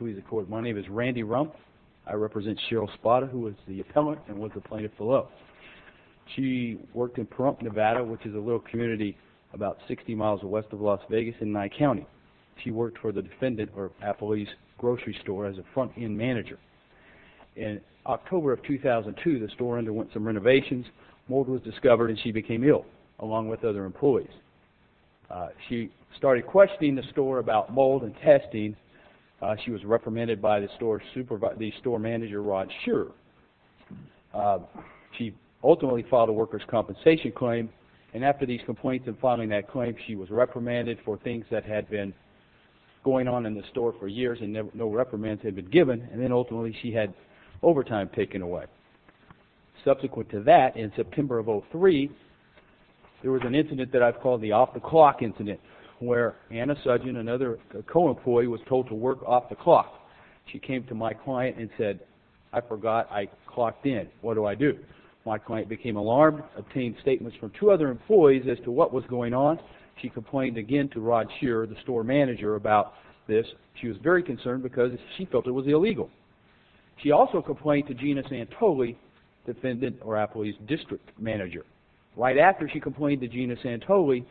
RANDY RUMP My name is Randy Rump. I represent Cheryl Spata, who is the appellant and was the plaintiff below. She worked in Pahrump, Nevada, which is a little community about 60 miles west of Las Vegas in Nye County. She worked for the defendant or affilee's grocery store as a front-end manager. In October of 2002, the store underwent some renovations. Mold was discovered and she became ill, along with other employees. She started questioning the store about mold and testing. She was reprimanded by the store manager, Rod Scherer. She ultimately filed a worker's compensation claim, and after these complaints and filing that claim, she was reprimanded for things that had been going on in the store for years and no reprimands had been given, and then ultimately she had overtime taken away. Subsequent to that, in September of 2003, there was an incident that I've called the off-the-clock incident, where Anna Sudgen, another co-employee, was told to work off the clock. She came to my client and said, I forgot I clocked in. What do I do? My client became alarmed, obtained statements from two other employees as to what was going on. She complained again to Rod Scherer, the store manager, about this. She was very concerned because she felt it was illegal. She also complained to Gina Santoli, defendant or affilee's district manager. Right after she complained to Gina Santoli,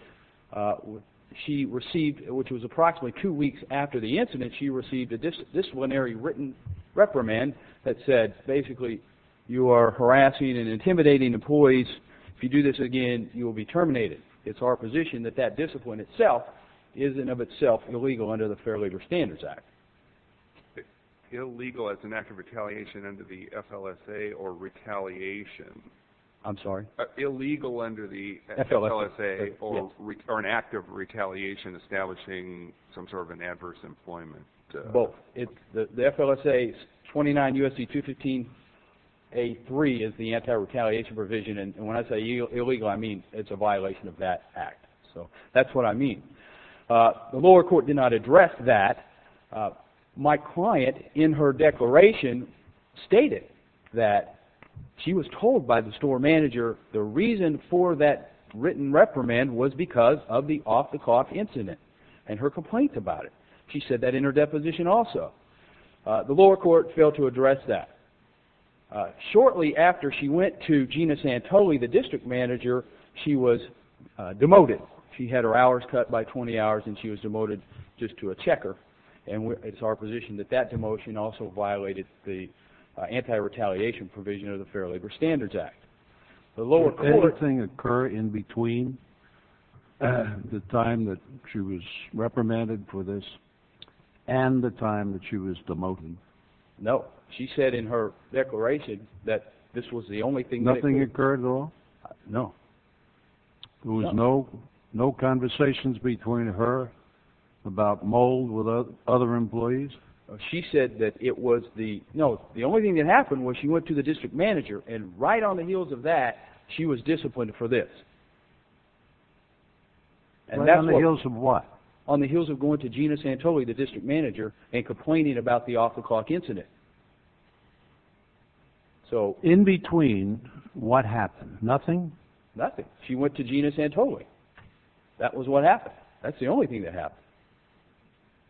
she received, which was approximately two weeks after the incident, she received a disciplinary written reprimand that said, basically, you are harassing and intimidating employees. If you do this again, you will be terminated. It's our position that that discipline itself is in and of itself illegal under the Fair Labor Standards Act. Illegal as an act of retaliation under the FLSA or retaliation? I'm sorry? Illegal under the FLSA or an act of retaliation establishing some sort of an adverse employment? Both. The FLSA's 29 U.S.C. 215A3 is the anti-retaliation provision, and when I say illegal, I mean it's a violation of that act. So that's what I mean. The lower court did not address that. My client, in her declaration, stated that she was told by the store manager the reason for that written reprimand was because of the off-the-cuff incident and her complaints about it. She said that in her deposition also. The lower court failed to address that. Shortly after she went to Gina Santoli, the district manager, she was demoted. She had her hours cut by 20 hours and she was demoted just to a checker, and it's our position that that demotion also violated the anti-retaliation provision of the Fair Labor Standards Act. Did anything occur in between the time that she was reprimanded for this and the time that she was demoted? No. She said in her declaration that this was the only thing that occurred. Nothing occurred at all? No. There was no conversations between her about mold with other employees? She said that it was the only thing that happened was she went to the district manager and right on the heels of that, she was disciplined for this. Right on the heels of what? On the heels of going to Gina Santoli, the district manager, and complaining about the off-the-cuff incident. So in between, what happened? Nothing? Nothing. She went to Gina Santoli. That was what happened. That's the only thing that happened.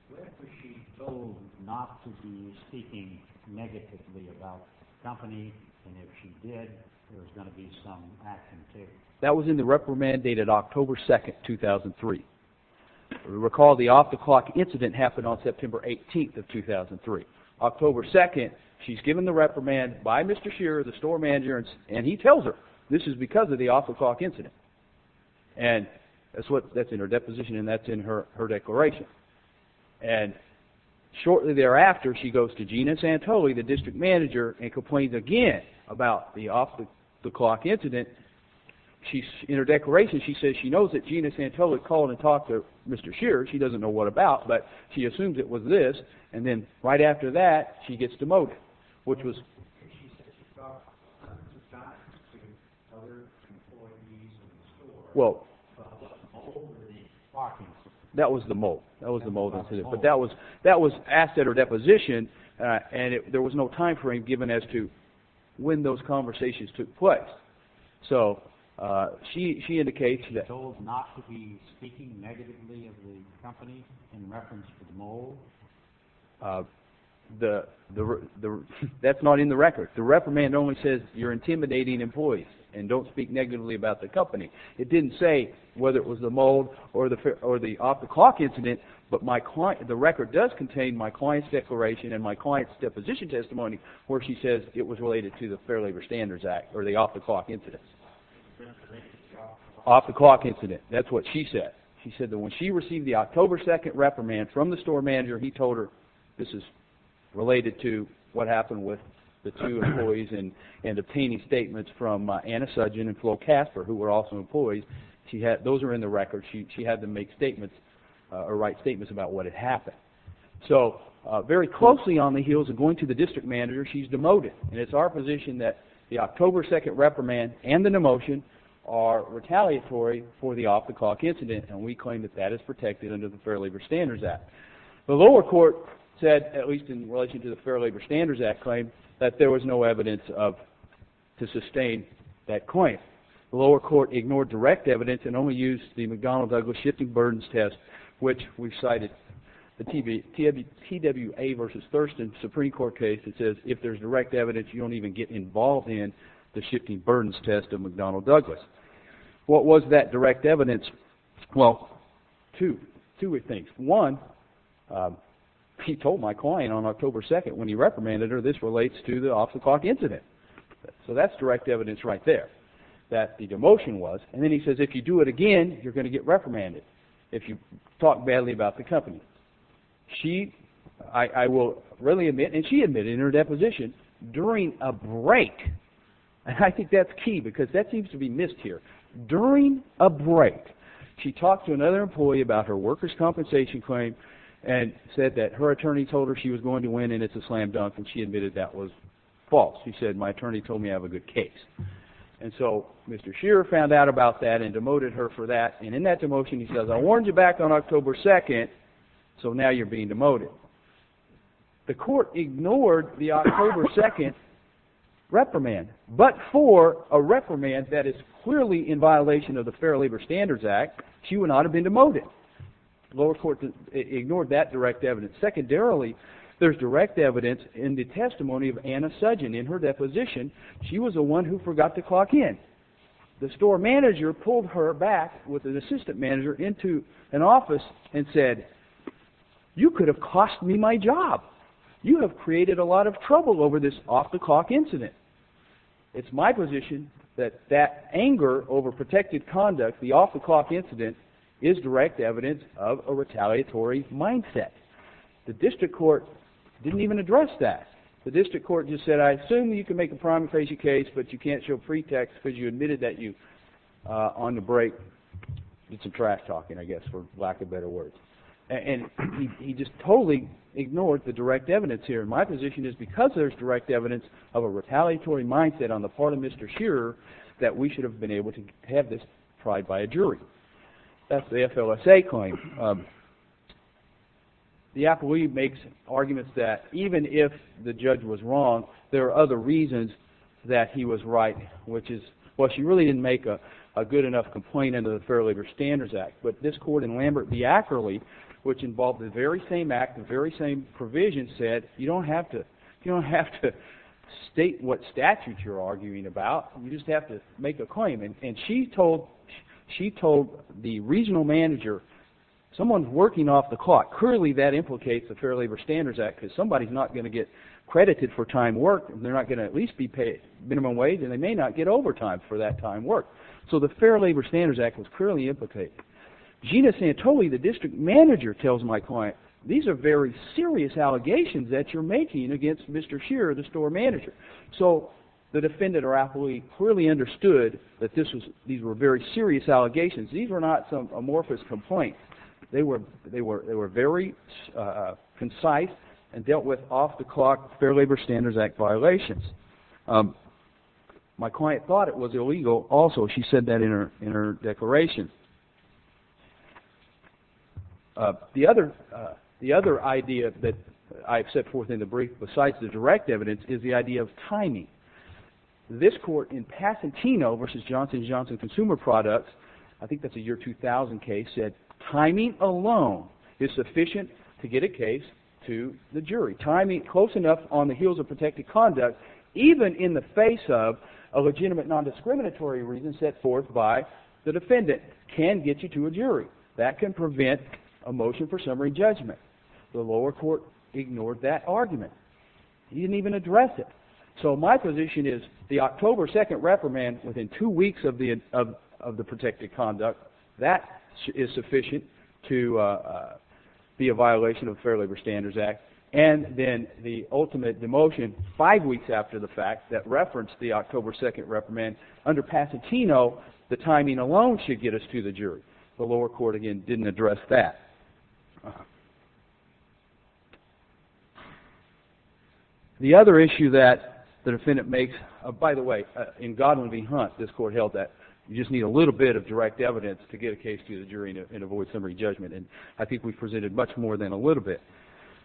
Where was she told not to be speaking negatively about the company, and if she did, there was going to be some action taken? That was in the reprimand dated October 2nd, 2003. Recall the off-the-clock incident happened on September 18th of 2003. October 2nd, she's given the reprimand by Mr. Shearer, the store manager, and he tells her this is because of the off-the-clock incident. That's in her deposition and that's in her declaration. Shortly thereafter, she goes to Gina Santoli, the district manager, and complains again about the off-the-clock incident. In her declaration, she says she knows that Gina Santoli called and talked to Mr. Shearer. She doesn't know what about, but she assumes it was this, and then right after that, she gets demoted. She said she talked to other employees in the store about the mold in the box. That was the mold. That was the mold incident, but that was asked at her deposition, and there was no time frame given as to when those conversations took place. She indicates that- She was told not to be speaking negatively of the company in reference to the mold? That's not in the record. The reprimand only says you're intimidating employees and don't speak negatively about the company. It didn't say whether it was the mold or the off-the-clock incident, but the record does contain my client's declaration and my client's deposition testimony where she says it was related to the Fair Labor Standards Act or the off-the-clock incident. Off-the-clock incident, that's what she said. She said that when she received the October 2nd reprimand from the store manager, he told her this is related to what happened with the two employees and obtaining statements from Anna Sudgen and Flo Casper, who were also employees. Those are in the record. She had them make statements or write statements about what had happened. So very closely on the heels of going to the district manager, she's demoted, and it's our position that the October 2nd reprimand and the demotion are retaliatory for the off-the-clock incident, and we claim that that is protected under the Fair Labor Standards Act. The lower court said, at least in relation to the Fair Labor Standards Act claim, that there was no evidence to sustain that claim. The lower court ignored direct evidence and only used the McDonnell-Douglas shifting burdens test, which we've cited the TWA v. Thurston Supreme Court case that says if there's direct evidence, you don't even get involved in the shifting burdens test of McDonnell-Douglas. What was that direct evidence? Well, two things. One, he told my client on October 2nd when he reprimanded her, this relates to the off-the-clock incident. So that's direct evidence right there that the demotion was, and then he says if you do it again, you're going to get reprimanded if you talk badly about the company. She, I will readily admit, and she admitted in her deposition, during a break, and I think that's key because that seems to be missed here, during a break, she talked to another employee about her workers' compensation claim and said that her attorney told her she was going to win and it's a slam dunk, and she admitted that was false. She said my attorney told me I have a good case. And so Mr. Shearer found out about that and demoted her for that, and in that demotion he says I warned you back on October 2nd, so now you're being demoted. The court ignored the October 2nd reprimand, but for a reprimand that is clearly in violation of the Fair Labor Standards Act, she would not have been demoted. The lower court ignored that direct evidence. Secondarily, there's direct evidence in the testimony of Anna Sudgen. In her deposition, she was the one who forgot to clock in. The store manager pulled her back with an assistant manager into an office and said, you could have cost me my job. You have created a lot of trouble over this off-the-clock incident. It's my position that that anger over protected conduct, the off-the-clock incident, is direct evidence of a retaliatory mindset. The district court didn't even address that. The district court just said I assume you can make a primary case, but you can't show pretext because you admitted that you, on the break, did some trash talking, I guess, for lack of better words. And he just totally ignored the direct evidence here. My position is because there's direct evidence of a retaliatory mindset on the part of Mr. Shearer, that we should have been able to have this tried by a jury. That's the FLSA claim. The appellee makes arguments that even if the judge was wrong, there are other reasons that he was right, which is, well, she really didn't make a good enough complaint under the Fair Labor Standards Act, but this court in Lambert v. Ackerley, which involved the very same act, the very same provision, said you don't have to state what statutes you're arguing about. You just have to make a claim. And she told the regional manager, someone's working off the clock. Clearly that implicates the Fair Labor Standards Act because somebody's not going to get credited for time worked, and they're not going to at least be paid minimum wage, and they may not get overtime for that time worked. So the Fair Labor Standards Act was clearly implicated. Gina Santoli, the district manager, tells my client, these are very serious allegations that you're making against Mr. Shearer, the store manager. So the defendant or appellee clearly understood that these were very serious allegations. These were not some amorphous complaint. They were very concise and dealt with off-the-clock Fair Labor Standards Act violations. My client thought it was illegal also. She said that in her declaration. The other idea that I've set forth in the brief besides the direct evidence is the idea of timing. This court in Pasatino v. Johnson & Johnson Consumer Products, I think that's a year 2000 case, said timing alone is sufficient to get a case to the jury. Timing close enough on the heels of protected conduct, even in the face of a legitimate nondiscriminatory reason set forth by the defendant, can get you to a jury. That can prevent a motion for summary judgment. The lower court ignored that argument. He didn't even address it. So my position is the October 2nd reprimand within two weeks of the protected conduct, that is sufficient to be a violation of the Fair Labor Standards Act. And then the ultimate demotion five weeks after the fact that referenced the October 2nd reprimand. Under Pasatino, the timing alone should get us to the jury. The lower court, again, didn't address that. The other issue that the defendant makes, by the way, in Godwin v. Hunt, this court held that you just need a little bit of direct evidence to get a case to the jury and avoid summary judgment. And I think we've presented much more than a little bit.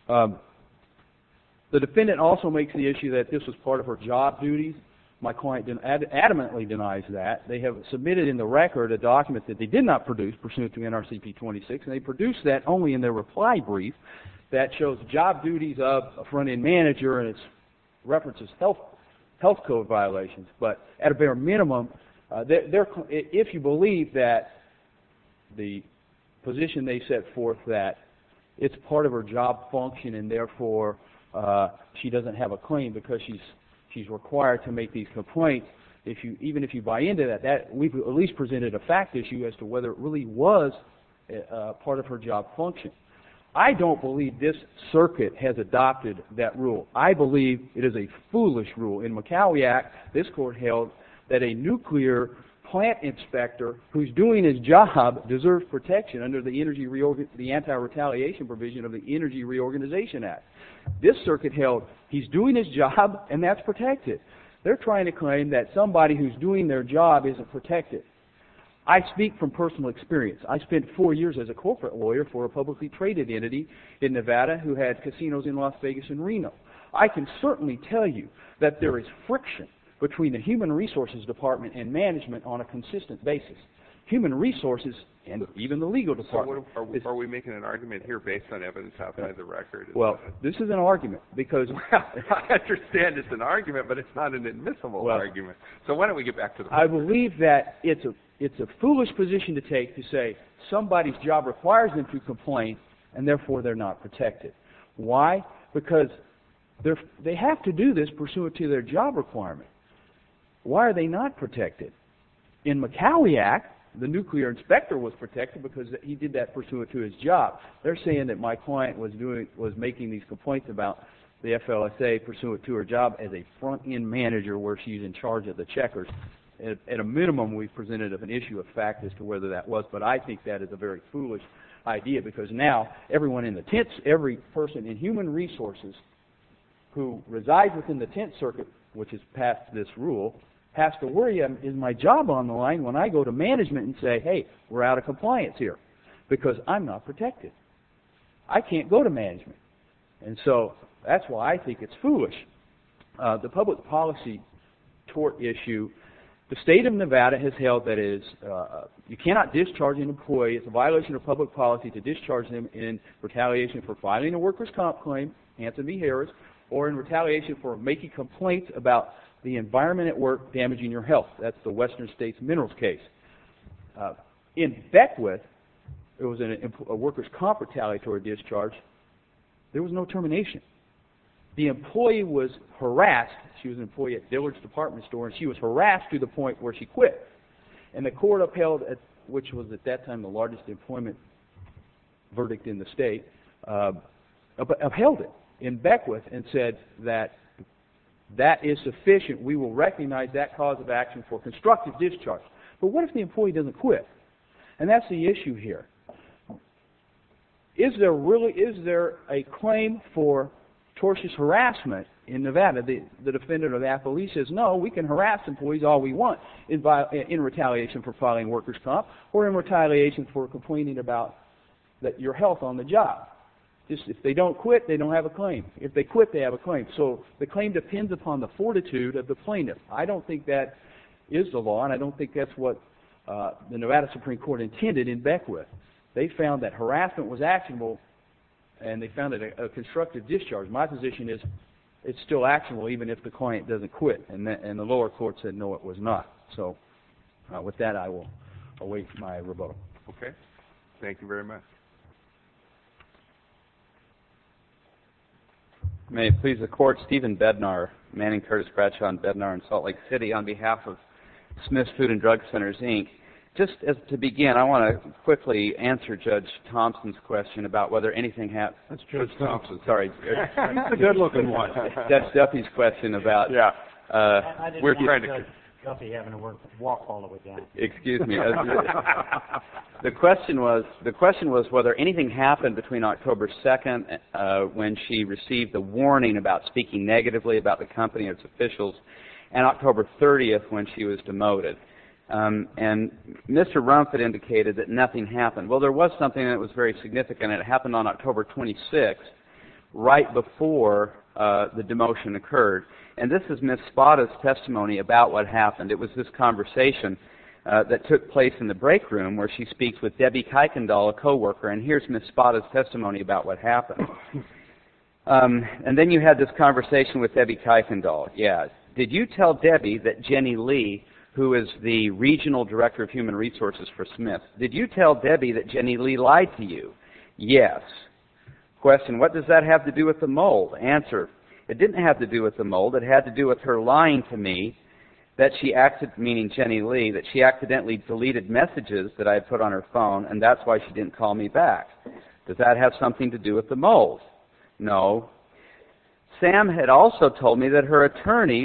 The defendant also makes the issue that this was part of her job duties. My client adamantly denies that. They have submitted in the record a document that they did not produce pursuant to NRCP 26, and they produced that only in their reply brief that shows job duties of a front-end manager and it references health code violations. But at a bare minimum, if you believe that the position they set forth that it's part of her job function and therefore she doesn't have a claim because she's required to make these complaints, even if you buy into that, we've at least presented a fact issue as to whether it really was part of her job function. I don't believe this circuit has adopted that rule. I believe it is a foolish rule. In Macaulay Act, this court held that a nuclear plant inspector who's doing his job deserves protection under the anti-retaliation provision of the Energy Reorganization Act. This circuit held he's doing his job and that's protected. They're trying to claim that somebody who's doing their job isn't protected. I speak from personal experience. I spent four years as a corporate lawyer for a publicly traded entity in Nevada who had casinos in Las Vegas and Reno. I can certainly tell you that there is friction between the human resources department and management on a consistent basis. Human resources and even the legal department. Are we making an argument here based on evidence outside the record? Well, this is an argument because... I understand it's an argument but it's not an admissible argument. So why don't we get back to the point? I believe that it's a foolish position to take to say somebody's job requires them to complain and therefore they're not protected. Why? Because they have to do this pursuant to their job requirement. Why are they not protected? In MacAulay Act, the nuclear inspector was protected because he did that pursuant to his job. They're saying that my client was making these complaints about the FLSA pursuant to her job as a front-end manager where she's in charge of the checkers. At a minimum we've presented an issue of fact as to whether that was but I think that is a very foolish idea because now everyone in the tents, every person in human resources who resides within the tent circuit, which has passed this rule, has to worry, is my job on the line when I go to management and say, hey, we're out of compliance here because I'm not protected. I can't go to management. And so that's why I think it's foolish. The public policy tort issue. The state of Nevada has held that you cannot discharge an employee. It's a violation of public policy to discharge them in retaliation for filing a workers' comp claim, Hanson v. Harris, or in retaliation for making complaints about the environment at work damaging your health. That's the Western States Minerals case. In Beckwith, it was a workers' comp retaliatory discharge. There was no termination. The employee was harassed. She was an employee at Dillard's Department Store and she was harassed to the point where she quit. And the court upheld, which was at that time the largest employment verdict in the state, upheld it in Beckwith and said that that is sufficient. We will recognize that cause of action for constructive discharge. But what if the employee doesn't quit? And that's the issue here. Is there a claim for tortious harassment in Nevada? The defendant or the appellee says, no, we can harass employees all we want in retaliation for filing a workers' comp or in retaliation for complaining about your health on the job. If they don't quit, they don't have a claim. If they quit, they have a claim. So the claim depends upon the fortitude of the plaintiff. I don't think that is the law and I don't think that's what the Nevada Supreme Court intended in Beckwith. They found that harassment was actionable and they found it a constructive discharge. My position is it's still actionable even if the client doesn't quit. And the lower court said, no, it was not. So with that, I will await my rebuttal. Okay. Thank you very much. May it please the Court, Stephen Bednar, Manning Curtis Bradshaw and Bednar in Salt Lake City on behalf of Smith's Food and Drug Centers, Inc. Just to begin, I want to quickly answer Judge Thompson's question about whether anything happened. That's Judge Thompson. Sorry. He's a good-looking one. That's Duffy's question about... I didn't like Judge Duffy having to walk all the way down. Excuse me. The question was whether anything happened between October 2nd when she received a warning about speaking negatively about the company and its officials and October 30th when she was demoted. And Mr. Rumpf had indicated that nothing happened. Well, there was something that was very significant. It happened on October 26th right before the demotion occurred. And this is Ms. Spada's testimony about what happened. It was this conversation that took place in the break room where she speaks with Debbie Kuykendall, a co-worker. And here's Ms. Spada's testimony about what happened. And then you had this conversation with Debbie Kuykendall. Did you tell Debbie that Jenny Lee, who is the Regional Director of Human Resources for Smith, Did you tell Debbie that Jenny Lee lied to you? Yes. Question. What does that have to do with the mole? Answer. It didn't have to do with the mole. It had to do with her lying to me, meaning Jenny Lee, that she accidentally deleted messages that I had put on her phone, and that's why she didn't call me back. Does that have something to do with the mole? No. Sam had also told me that her attorney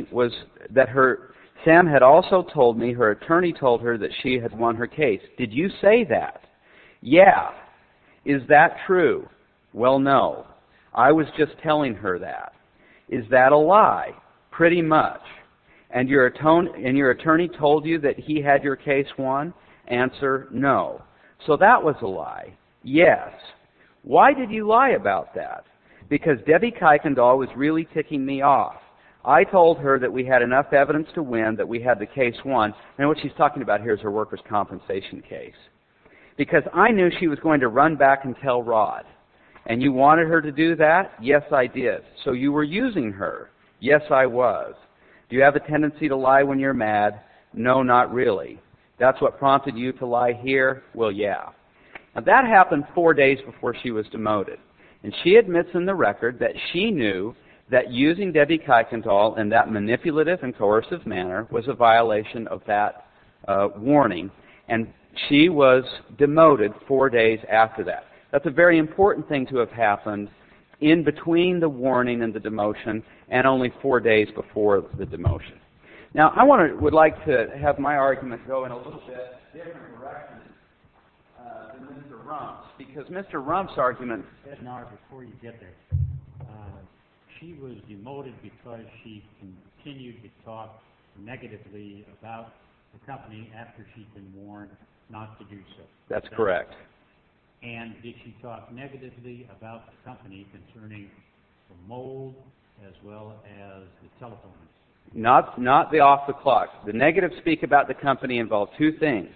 told her that she had won her case. Did you say that? Yes. Is that true? Well, no. I was just telling her that. Is that a lie? Pretty much. And your attorney told you that he had your case won? Answer. No. So that was a lie. Yes. Why did you lie about that? Because Debbie Kuykendall was really ticking me off. I told her that we had enough evidence to win, that we had the case won. And what she's talking about here is her workers' compensation case. Because I knew she was going to run back and tell Rod. And you wanted her to do that? Yes, I did. So you were using her? Yes, I was. Do you have a tendency to lie when you're mad? No, not really. That's what prompted you to lie here? Well, yeah. Now, that happened four days before she was demoted, and she admits in the record that she knew that using Debbie Kuykendall in that manipulative and coercive manner was a violation of that warning. And she was demoted four days after that. That's a very important thing to have happened in between the warning and the demotion, and only four days before the demotion. Now, I would like to have my argument go in a little bit different direction than Mr. Rump's, because Mr. Rump's argument... Before you get there, she was demoted because she continued to talk negatively about the company after she'd been warned not to do so. That's correct. And did she talk negatively about the company concerning the mold as well as the telephones? Not off the clock. The negative speak about the company involved two things.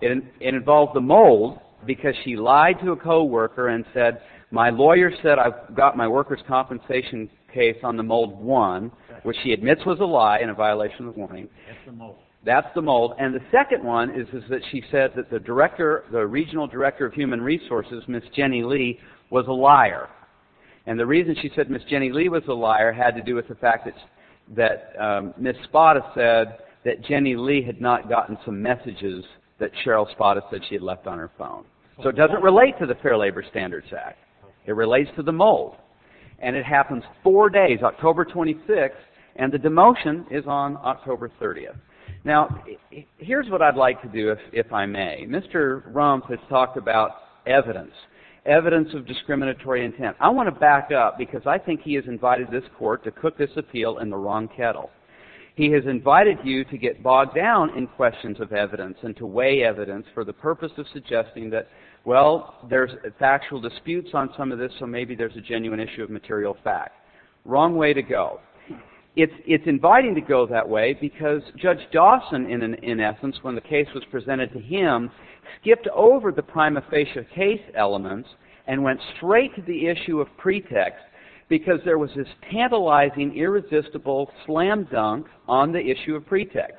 It involved the mold because she lied to a co-worker and said, my lawyer said I've got my workers' compensation case on the mold one, which she admits was a lie and a violation of the warning. That's the mold. That's the mold. And the second one is that she said that the regional director of human resources, Ms. Jenny Lee, was a liar. And the reason she said Ms. Jenny Lee was a liar had to do with the fact that Ms. Spada said that Jenny Lee had not gotten some messages that Cheryl Spada said she had left on her phone. So it doesn't relate to the Fair Labor Standards Act. It relates to the mold. And it happens four days, October 26th, and the demotion is on October 30th. Now, here's what I'd like to do, if I may. Mr. Rump has talked about evidence, evidence of discriminatory intent. I want to back up because I think he has invited this court to cook this appeal in the wrong kettle. He has invited you to get bogged down in questions of evidence and to weigh evidence for the purpose of suggesting that, well, there's factual disputes on some of this, so maybe there's a genuine issue of material fact. Wrong way to go. It's inviting to go that way because Judge Dawson, in essence, when the case was presented to him, skipped over the prima facie case elements and went straight to the issue of pretext because there was this tantalizing, irresistible slam dunk on the issue of pretext.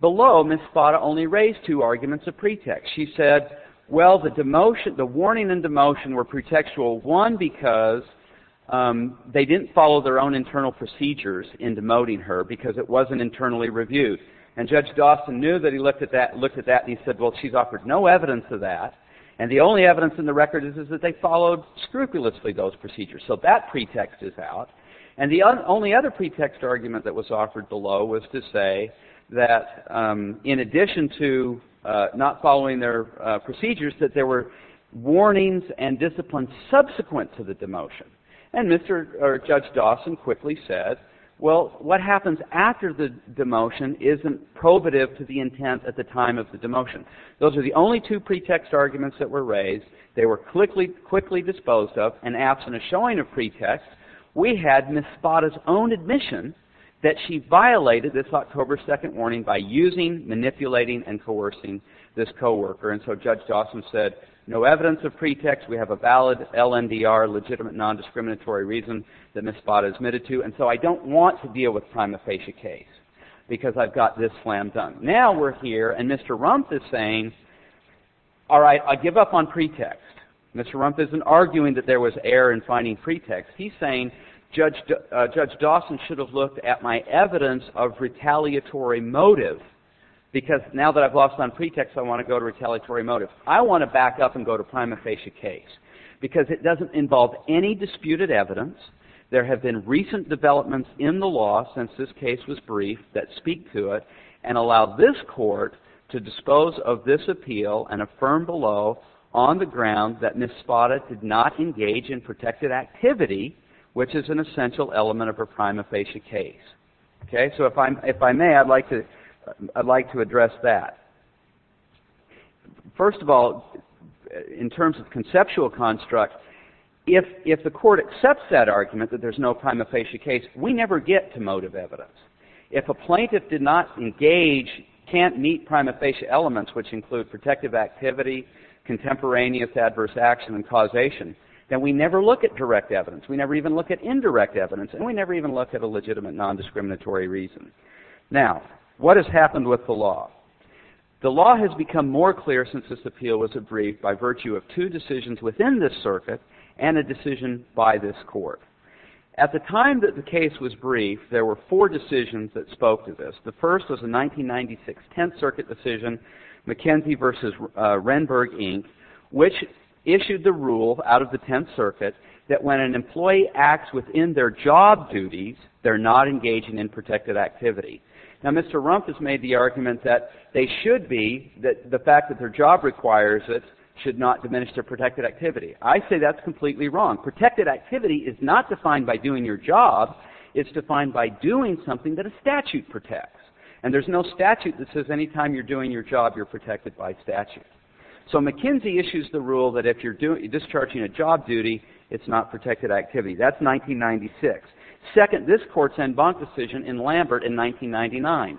Below, Ms. Spada only raised two arguments of pretext. She said, well, the warning and demotion were pretextual, one, because they didn't follow their own internal procedures in demoting her because it wasn't internally reviewed. And Judge Dawson knew that he looked at that and he said, well, she's offered no evidence of that. And the only evidence in the record is that they followed scrupulously those procedures. So that pretext is out. And the only other pretext argument that was offered below was to say that, in addition to not following their procedures, that there were warnings and disciplines subsequent to the demotion. And Judge Dawson quickly said, well, what happens after the demotion isn't probative to the intent at the time of the demotion. Those are the only two pretext arguments that were raised. They were quickly disposed of. And absent a showing of pretext, we had Ms. Spada's own admission that she violated this October 2nd warning by using, manipulating, and coercing this coworker. And so Judge Dawson said, no evidence of pretext. We have a valid LNDR, legitimate nondiscriminatory reason, that Ms. Spada admitted to. And so I don't want to deal with the prima facie case because I've got this slam dunk. Now we're here, and Mr. Rumpf is saying, all right, I give up on pretext. Mr. Rumpf isn't arguing that there was error in finding pretext. He's saying Judge Dawson should have looked at my evidence of retaliatory motive because now that I've lost on pretext, I want to go to retaliatory motive. I want to back up and go to prima facie case because it doesn't involve any disputed evidence. There have been recent developments in the law since this case was briefed that speak to it and allow this court to dispose of this appeal and affirm below on the ground that Ms. Spada did not engage in protected activity, which is an essential element of her prima facie case. Okay, so if I may, I'd like to address that. First of all, in terms of conceptual construct, if the court accepts that argument that there's no prima facie case, we never get to motive evidence. If a plaintiff did not engage, can't meet prima facie elements, which include protective activity, contemporaneous adverse action and causation, then we never look at direct evidence. We never even look at indirect evidence, and we never even look at a legitimate nondiscriminatory reason. Now, what has happened with the law? The law has become more clear since this appeal was briefed by virtue of two decisions within this circuit and a decision by this court. At the time that the case was briefed, there were four decisions that spoke to this. The first was the 1996 Tenth Circuit decision, McKenzie v. Renberg, Inc., which issued the rule out of the Tenth Circuit that when an employee acts within their job duties, they're not engaging in protected activity. Now, Mr. Rumpf has made the argument that they should be, that the fact that their job requires it should not diminish their protected activity. I say that's completely wrong. Protected activity is not defined by doing your job. It's defined by doing something that a statute protects. And there's no statute that says any time you're doing your job, you're protected by statute. So McKenzie issues the rule that if you're discharging a job duty, it's not protected activity. That's 1996. Second, this court's en banc decision in Lambert in 1999.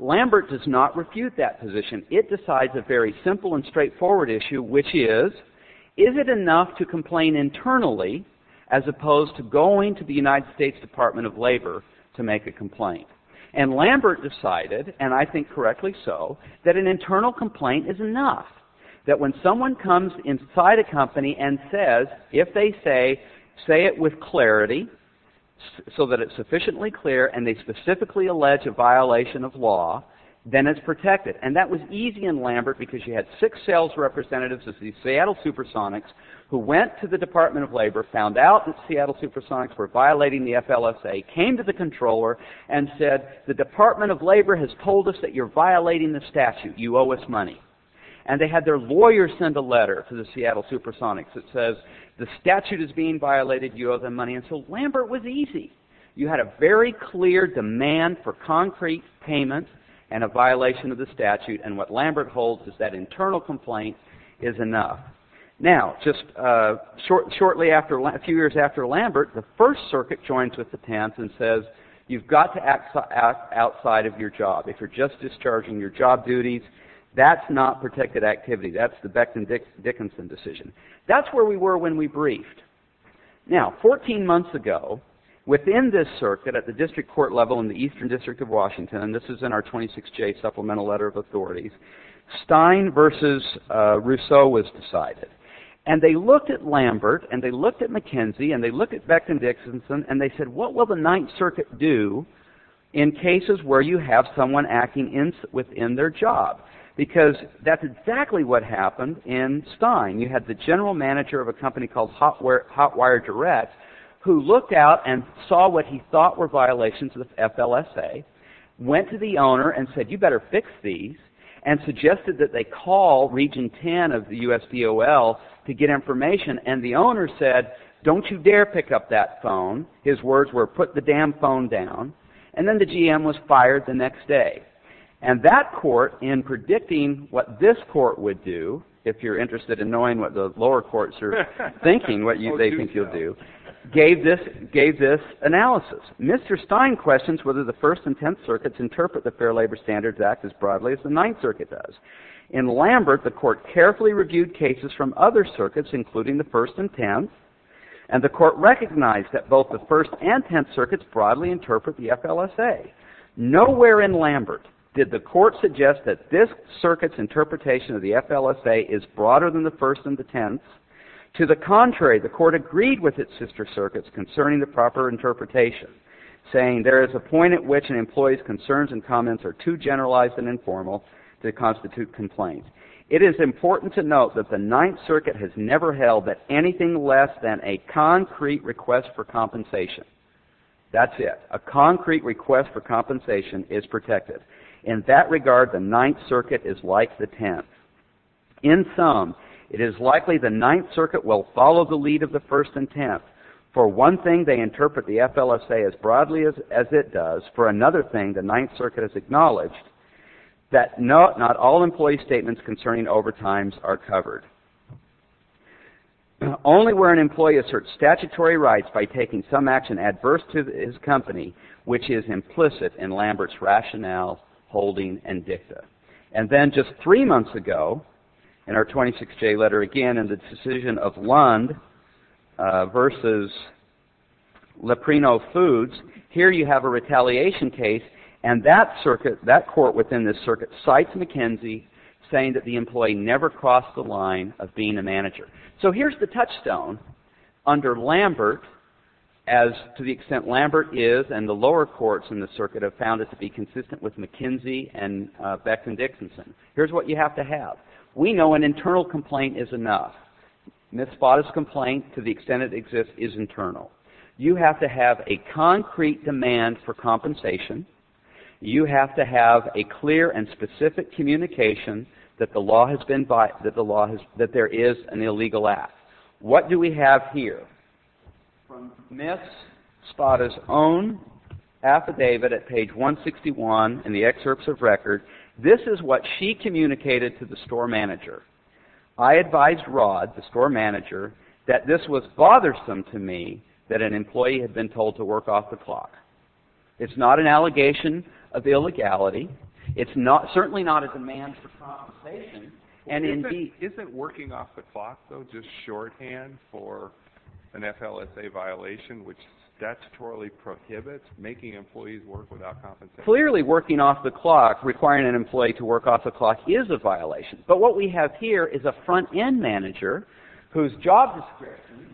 Lambert does not refute that position. It decides a very simple and straightforward issue, which is, is it enough to complain internally as opposed to going to the United States Department of Labor to make a complaint? And Lambert decided, and I think correctly so, that an internal complaint is enough, that when someone comes inside a company and says, if they say, say it with clarity, so that it's sufficiently clear, and they specifically allege a violation of law, then it's protected. And that was easy in Lambert because you had six sales representatives of the Seattle Supersonics who went to the Department of Labor, found out that Seattle Supersonics were violating the FLSA, came to the controller, and said, the Department of Labor has told us that you're violating the statute. You owe us money. And they had their lawyer send a letter to the Seattle Supersonics that says, the statute is being violated. You owe them money. And so Lambert was easy. You had a very clear demand for concrete payment and a violation of the statute, and what Lambert holds is that internal complaint is enough. Now, just shortly after, a few years after Lambert, the First Circuit joins with the temps and says, you've got to act outside of your job. If you're just discharging your job duties, that's not protected activity. That's the Becton-Dickinson decision. That's where we were when we briefed. Now, 14 months ago, within this circuit at the district court level in the Eastern District of Washington, and this is in our 26J Supplemental Letter of Authorities, Stein versus Rousseau was decided. And they looked at Lambert, and they looked at McKenzie, and they looked at Becton-Dickinson, and they said, what will the Ninth Circuit do in cases where you have someone acting within their job? Because that's exactly what happened in Stein. You had the general manager of a company called Hotwire Direct, who looked out and saw what he thought were violations of the FLSA, went to the owner and said, you better fix these, and suggested that they call Region 10 of the USVOL to get information. And the owner said, don't you dare pick up that phone. His words were, put the damn phone down. And then the GM was fired the next day. And that court, in predicting what this court would do, if you're interested in knowing what the lower courts are thinking, what they think you'll do, gave this analysis. Mr. Stein questions whether the First and Tenth Circuits interpret the Fair Labor Standards Act as broadly as the Ninth Circuit does. In Lambert, the court carefully reviewed cases from other circuits, including the First and Tenth, and the court recognized that both the First and Tenth Circuits broadly interpret the FLSA. Nowhere in Lambert did the court suggest that this circuit's interpretation of the FLSA is broader than the First and the Tenth. To the contrary, the court agreed with its sister circuits concerning the proper interpretation, saying there is a point at which an employee's concerns and comments are too generalized and informal to constitute complaints. It is important to note that the Ninth Circuit has never held that anything less than a concrete request for compensation, that's it, a concrete request for compensation is protected. In that regard, the Ninth Circuit is like the Tenth. In sum, it is likely the Ninth Circuit will follow the lead of the First and Tenth. For one thing, they interpret the FLSA as broadly as it does. For another thing, the Ninth Circuit has acknowledged that not all employee statements concerning overtimes are covered. Only where an employee asserts statutory rights by taking some action adverse to his company, which is implicit in Lambert's rationale, holding, and dicta. And then just three months ago, in our 26-J letter again, in the decision of Lund versus Leprino Foods, here you have a retaliation case, and that circuit, that court within this circuit, cites McKinsey, saying that the employee never crossed the line of being a manager. So here's the touchstone under Lambert, as to the extent Lambert is, and the lower courts in the circuit have found it to be consistent with McKinsey and Beckman-Dixon. Here's what you have to have. We know an internal complaint is enough. Miss Botta's complaint, to the extent it exists, is internal. You have to have a concrete demand for compensation. You have to have a clear and specific communication that the law has been, that there is an illegal act. What do we have here? From Miss Botta's own affidavit at page 161 in the excerpts of record, this is what she communicated to the store manager. I advised Rod, the store manager, that this was bothersome to me, that an employee had been told to work off the clock. It's not an allegation of illegality. It's certainly not a demand for compensation. Isn't working off the clock, though, just shorthand for an FLSA violation, which statutorily prohibits making employees work without compensation? Clearly, working off the clock, requiring an employee to work off the clock, is a violation. But what we have here is a front-end manager whose job description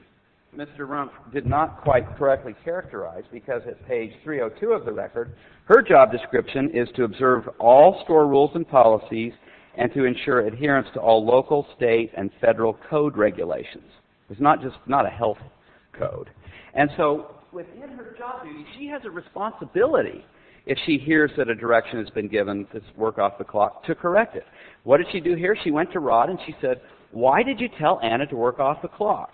Mr. Rumpf did not quite correctly characterize because at page 302 of the record, her job description is to observe all store rules and policies and to ensure adherence to all local, state, and federal code regulations. It's not just, not a health code. And so, within her job duty, she has a responsibility, if she hears that a direction has been given to work off the clock, to correct it. What did she do here? She went to Rod and she said, why did you tell Anna to work off the clock?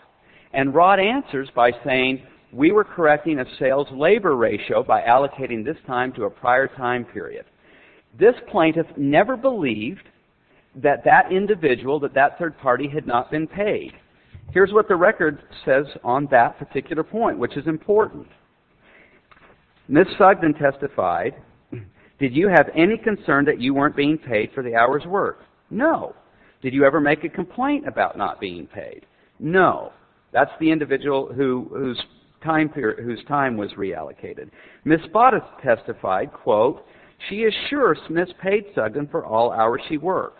And Rod answers by saying, we were correcting a sales-labor ratio by allocating this time to a prior time period. This plaintiff never believed that that individual, that that third party, had not been paid. Here's what the record says on that particular point, which is important. Ms. Sugden testified, did you have any concern that you weren't being paid for the hour's work? No. Did you ever make a complaint about not being paid? No. That's the individual whose time was reallocated. Ms. Spada testified, quote, she is sure Smith paid Sugden for all hours she worked.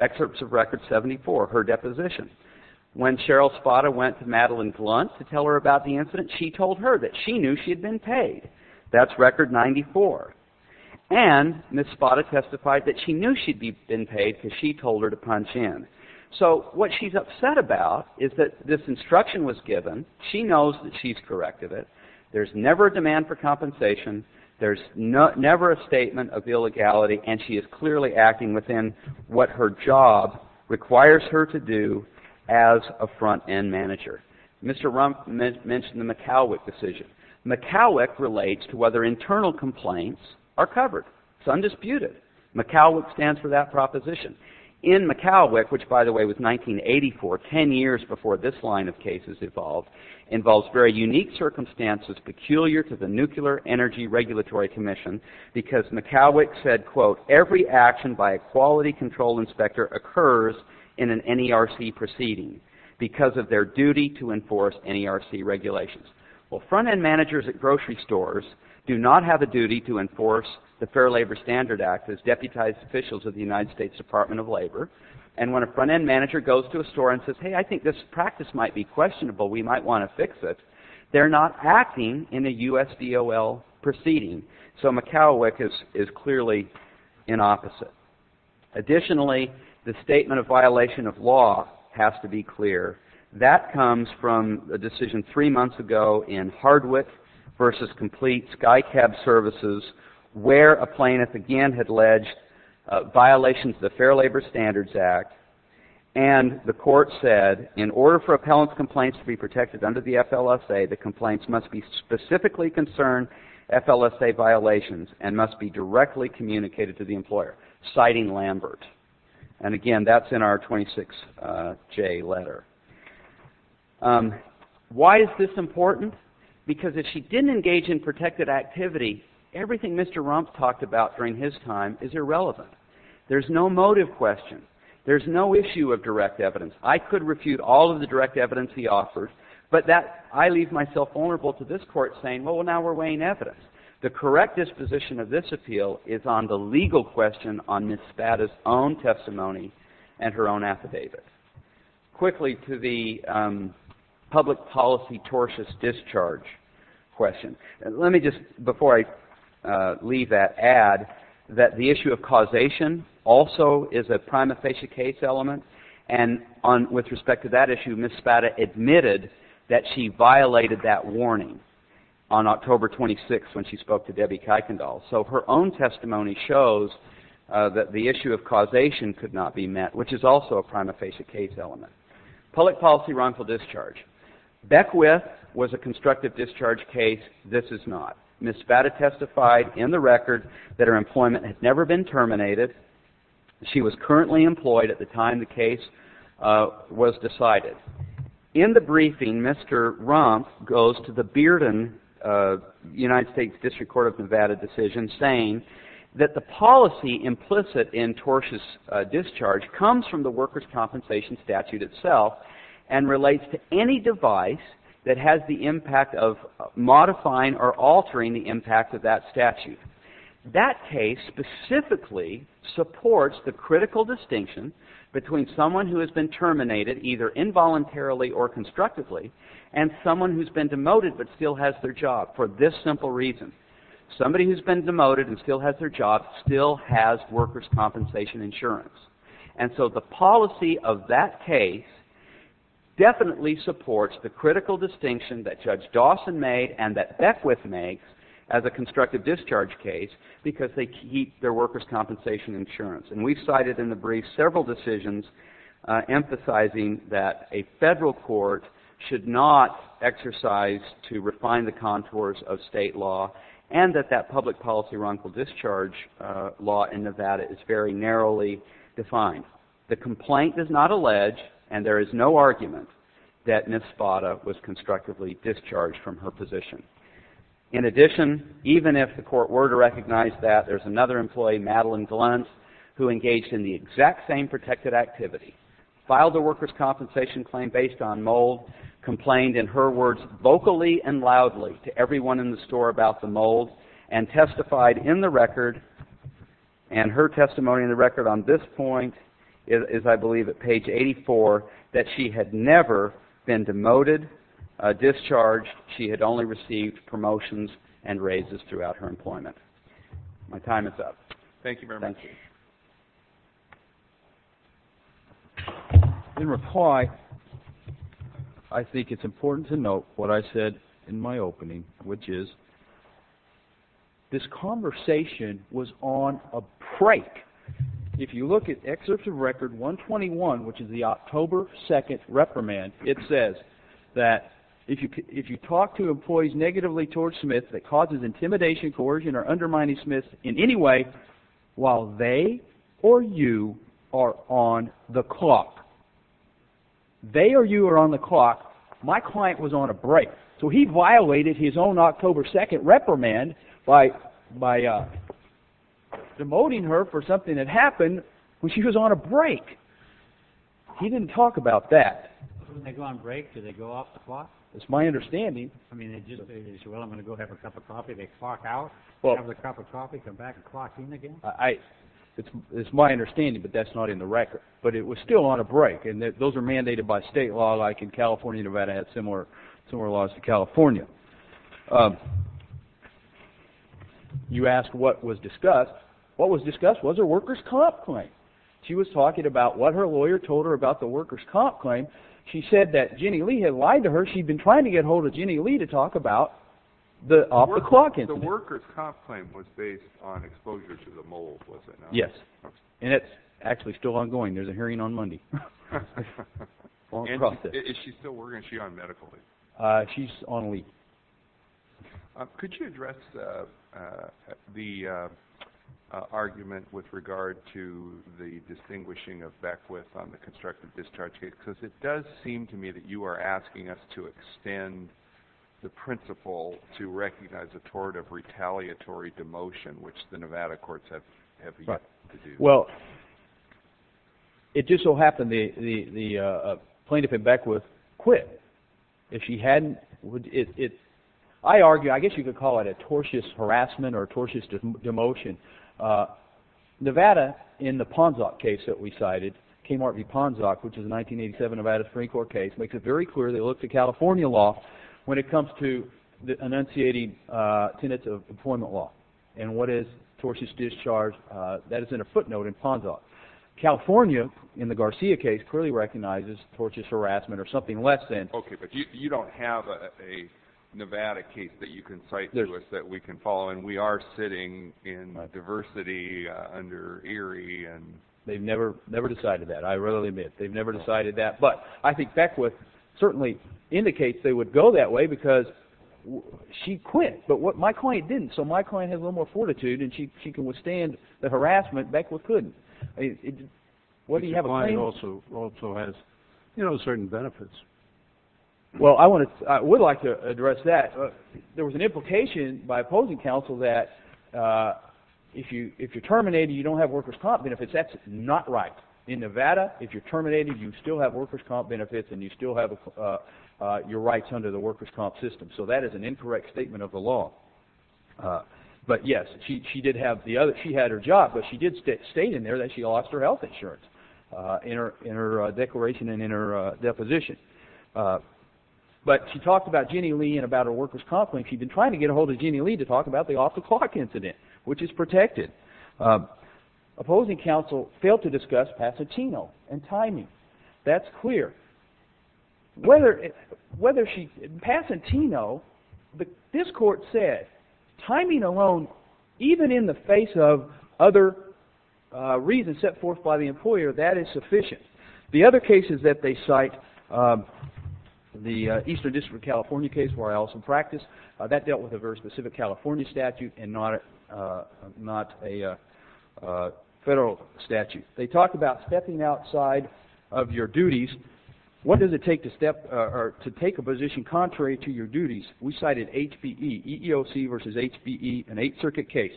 Excerpts of record 74, her deposition. When Cheryl Spada went to Madeline Glunt to tell her about the incident, she told her that she knew she had been paid. That's record 94. And Ms. Spada testified that she knew she'd been paid because she told her to punch in. So what she's upset about is that this instruction was given, she knows that she's corrected it, there's never a demand for compensation, there's never a statement of illegality, and she is clearly acting within what her job requires her to do as a front-end manager. Mr. Rumpf mentioned the McCowick decision. McCowick relates to whether internal complaints are covered. It's undisputed. McCowick stands for that proposition. In McCowick, which by the way was 1984, 10 years before this line of cases evolved, involves very unique circumstances peculiar to the Nuclear Energy Regulatory Commission because McCowick said, quote, every action by a quality control inspector occurs in an NERC proceeding because of their duty to enforce NERC regulations. Well, front-end managers at grocery stores do not have a duty to enforce the Fair Labor Standard Act as deputized officials of the United States Department of Labor, and when a front-end manager goes to a store and says, hey, I think this practice might be questionable, we might want to fix it, they're not acting in a U.S. DOL proceeding. So McCowick is clearly in opposite. Additionally, the statement of violation of law has to be clear. That comes from a decision three months ago in Hardwick v. Complete Sky Cab Services where a plaintiff again had alleged violations of the Fair Labor Standards Act, and the court said in order for appellant's complaints to be protected under the FLSA, the complaints must be specifically concerned FLSA violations and must be directly communicated to the employer, citing Lambert. And again, that's in our 26J letter. Why is this important? Because if she didn't engage in protected activity, everything Mr. Rumpf talked about during his time is irrelevant. There's no motive question. There's no issue of direct evidence. I could refute all of the direct evidence he offered, but I leave myself vulnerable to this court saying, well, now we're weighing evidence. The correct disposition of this appeal is on the legal question on Ms. Spada's own testimony and her own affidavit. Quickly to the public policy tortious discharge question. Let me just, before I leave that, add that the issue of causation also is a prima facie case element, and with respect to that issue, Ms. Spada admitted that she violated that warning on October 26th when she spoke to Debbie Kuykendall. So her own testimony shows that the issue of causation could not be met, which is also a prima facie case element. Public policy wrongful discharge. Beckwith was a constructive discharge case. This is not. Ms. Spada testified in the record that her employment had never been terminated. She was currently employed at the time the case was decided. In the briefing, Mr. Rumpf goes to the Bearden United States District Court of Nevada decision, saying that the policy implicit in tortious discharge comes from the workers' compensation statute itself and relates to any device that has the impact of modifying or altering the impact of that statute. That case specifically supports the critical distinction between someone who has been terminated, either involuntarily or constructively, and someone who's been demoted but still has their job for this simple reason. Somebody who's been demoted and still has their job still has workers' compensation insurance. And so the policy of that case definitely supports the critical distinction that Judge Dawson made and that Beckwith makes as a constructive discharge case because they keep their workers' compensation insurance. And we cited in the brief several decisions emphasizing that a federal court should not exercise to refine the contours of state law and that that public policy wrongful discharge law in Nevada is very narrowly defined. The complaint does not allege, and there is no argument, that Ms. Spada was constructively discharged from her position. In addition, even if the court were to recognize that, there's another employee, Madeline Gluntz, who engaged in the exact same protected activity, filed a workers' compensation claim based on mold, complained in her words vocally and loudly to everyone in the store about the mold, and testified in the record, and her testimony in the record on this point is, I believe, at page 84, that she had never been demoted, discharged. She had only received promotions and raises throughout her employment. My time is up. Thank you very much. Thank you. In reply, I think it's important to note what I said in my opening, which is this conversation was on a break. If you look at excerpts of Record 121, which is the October 2nd reprimand, it says that if you talk to employees negatively towards Smith that causes intimidation, coercion, or undermining Smith in any way while they or you are on the clock. They or you are on the clock. My client was on a break. So he violated his own October 2nd reprimand by demoting her for something that happened when she was on a break. He didn't talk about that. When they go on break, do they go off the clock? That's my understanding. I mean, they just say, well, I'm going to go have a cup of coffee. Do they clock out, have a cup of coffee, come back and clock in again? It's my understanding, but that's not in the record. But it was still on a break, and those are mandated by state law. Like in California, Nevada has similar laws to California. You asked what was discussed. What was discussed was her worker's comp claim. She was talking about what her lawyer told her about the worker's comp claim. She said that Ginny Lee had lied to her. She'd been trying to get a hold of Ginny Lee to talk about the off-the-clock incident. The worker's comp claim was based on exposure to the mold, was it not? Yes, and it's actually still ongoing. There's a hearing on Monday. Is she still working? Is she on medical leave? She's on leave. Could you address the argument with regard to the distinguishing of Beckwith on the constructive discharge case? Because it does seem to me that you are asking us to extend the principle to recognize a tort of retaliatory demotion, which the Nevada courts have yet to do. Well, it just so happened the plaintiff in Beckwith quit. If she hadn't, I guess you could call it a tortious harassment or a tortious demotion. Nevada, in the Ponzac case that we cited, Kmart v. Ponzac, which is a 1987 Nevada Supreme Court case, makes it very clear they look to California law when it comes to enunciating tenets of employment law. And what is tortious discharge? That is in a footnote in Ponzac. California, in the Garcia case, clearly recognizes tortious harassment or something less than. Okay, but you don't have a Nevada case that you can cite to us that we can follow. And we are sitting in diversity under Erie. They've never decided that. I readily admit they've never decided that. But I think Beckwith certainly indicates they would go that way because she quit. But my client didn't. So my client has a little more fortitude, and she can withstand the harassment. Beckwith couldn't. But your client also has certain benefits. Well, I would like to address that. There was an implication by opposing counsel that if you're terminated, you don't have workers' comp benefits. That's not right. In Nevada, if you're terminated, you still have workers' comp benefits and you still have your rights under the workers' comp system. So that is an incorrect statement of the law. But, yes, she did have the other – she had her job, but she did state in there that she lost her health insurance in her declaration and in her deposition. But she talked about Jenny Lee and about her workers' comp claim. She'd been trying to get a hold of Jenny Lee to talk about the off-the-clock incident, which is protected. Opposing counsel failed to discuss Pasatino and timing. That's clear. Whether she – Pasatino, this court said timing alone, even in the face of other reasons set forth by the employer, that is sufficient. The other cases that they cite, the Eastern District of California case where I also practice, that dealt with a very specific California statute and not a federal statute. They talked about stepping outside of your duties. What does it take to step – or to take a position contrary to your duties? We cited HPE, EEOC versus HPE, an Eighth Circuit case.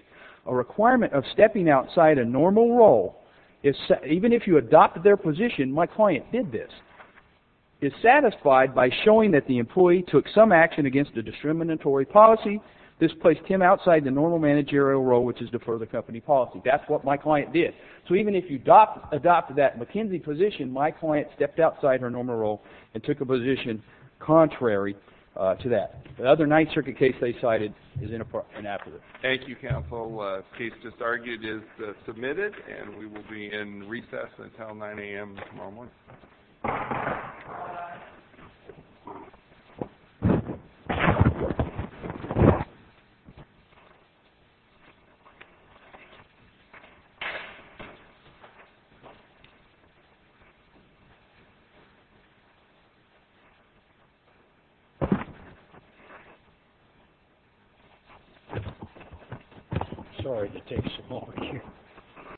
A requirement of stepping outside a normal role, even if you adopted their position – my client did this – is satisfied by showing that the employee took some action against a discriminatory policy. This placed him outside the normal managerial role, which is to defer the company policy. That's what my client did. So even if you adopted that McKinsey position, my client stepped outside her normal role and took a position contrary to that. The other Ninth Circuit case they cited is inappropriate. Thank you, counsel. The case just argued is submitted and we will be in recess until 9 a.m. tomorrow morning. Sorry to take so long.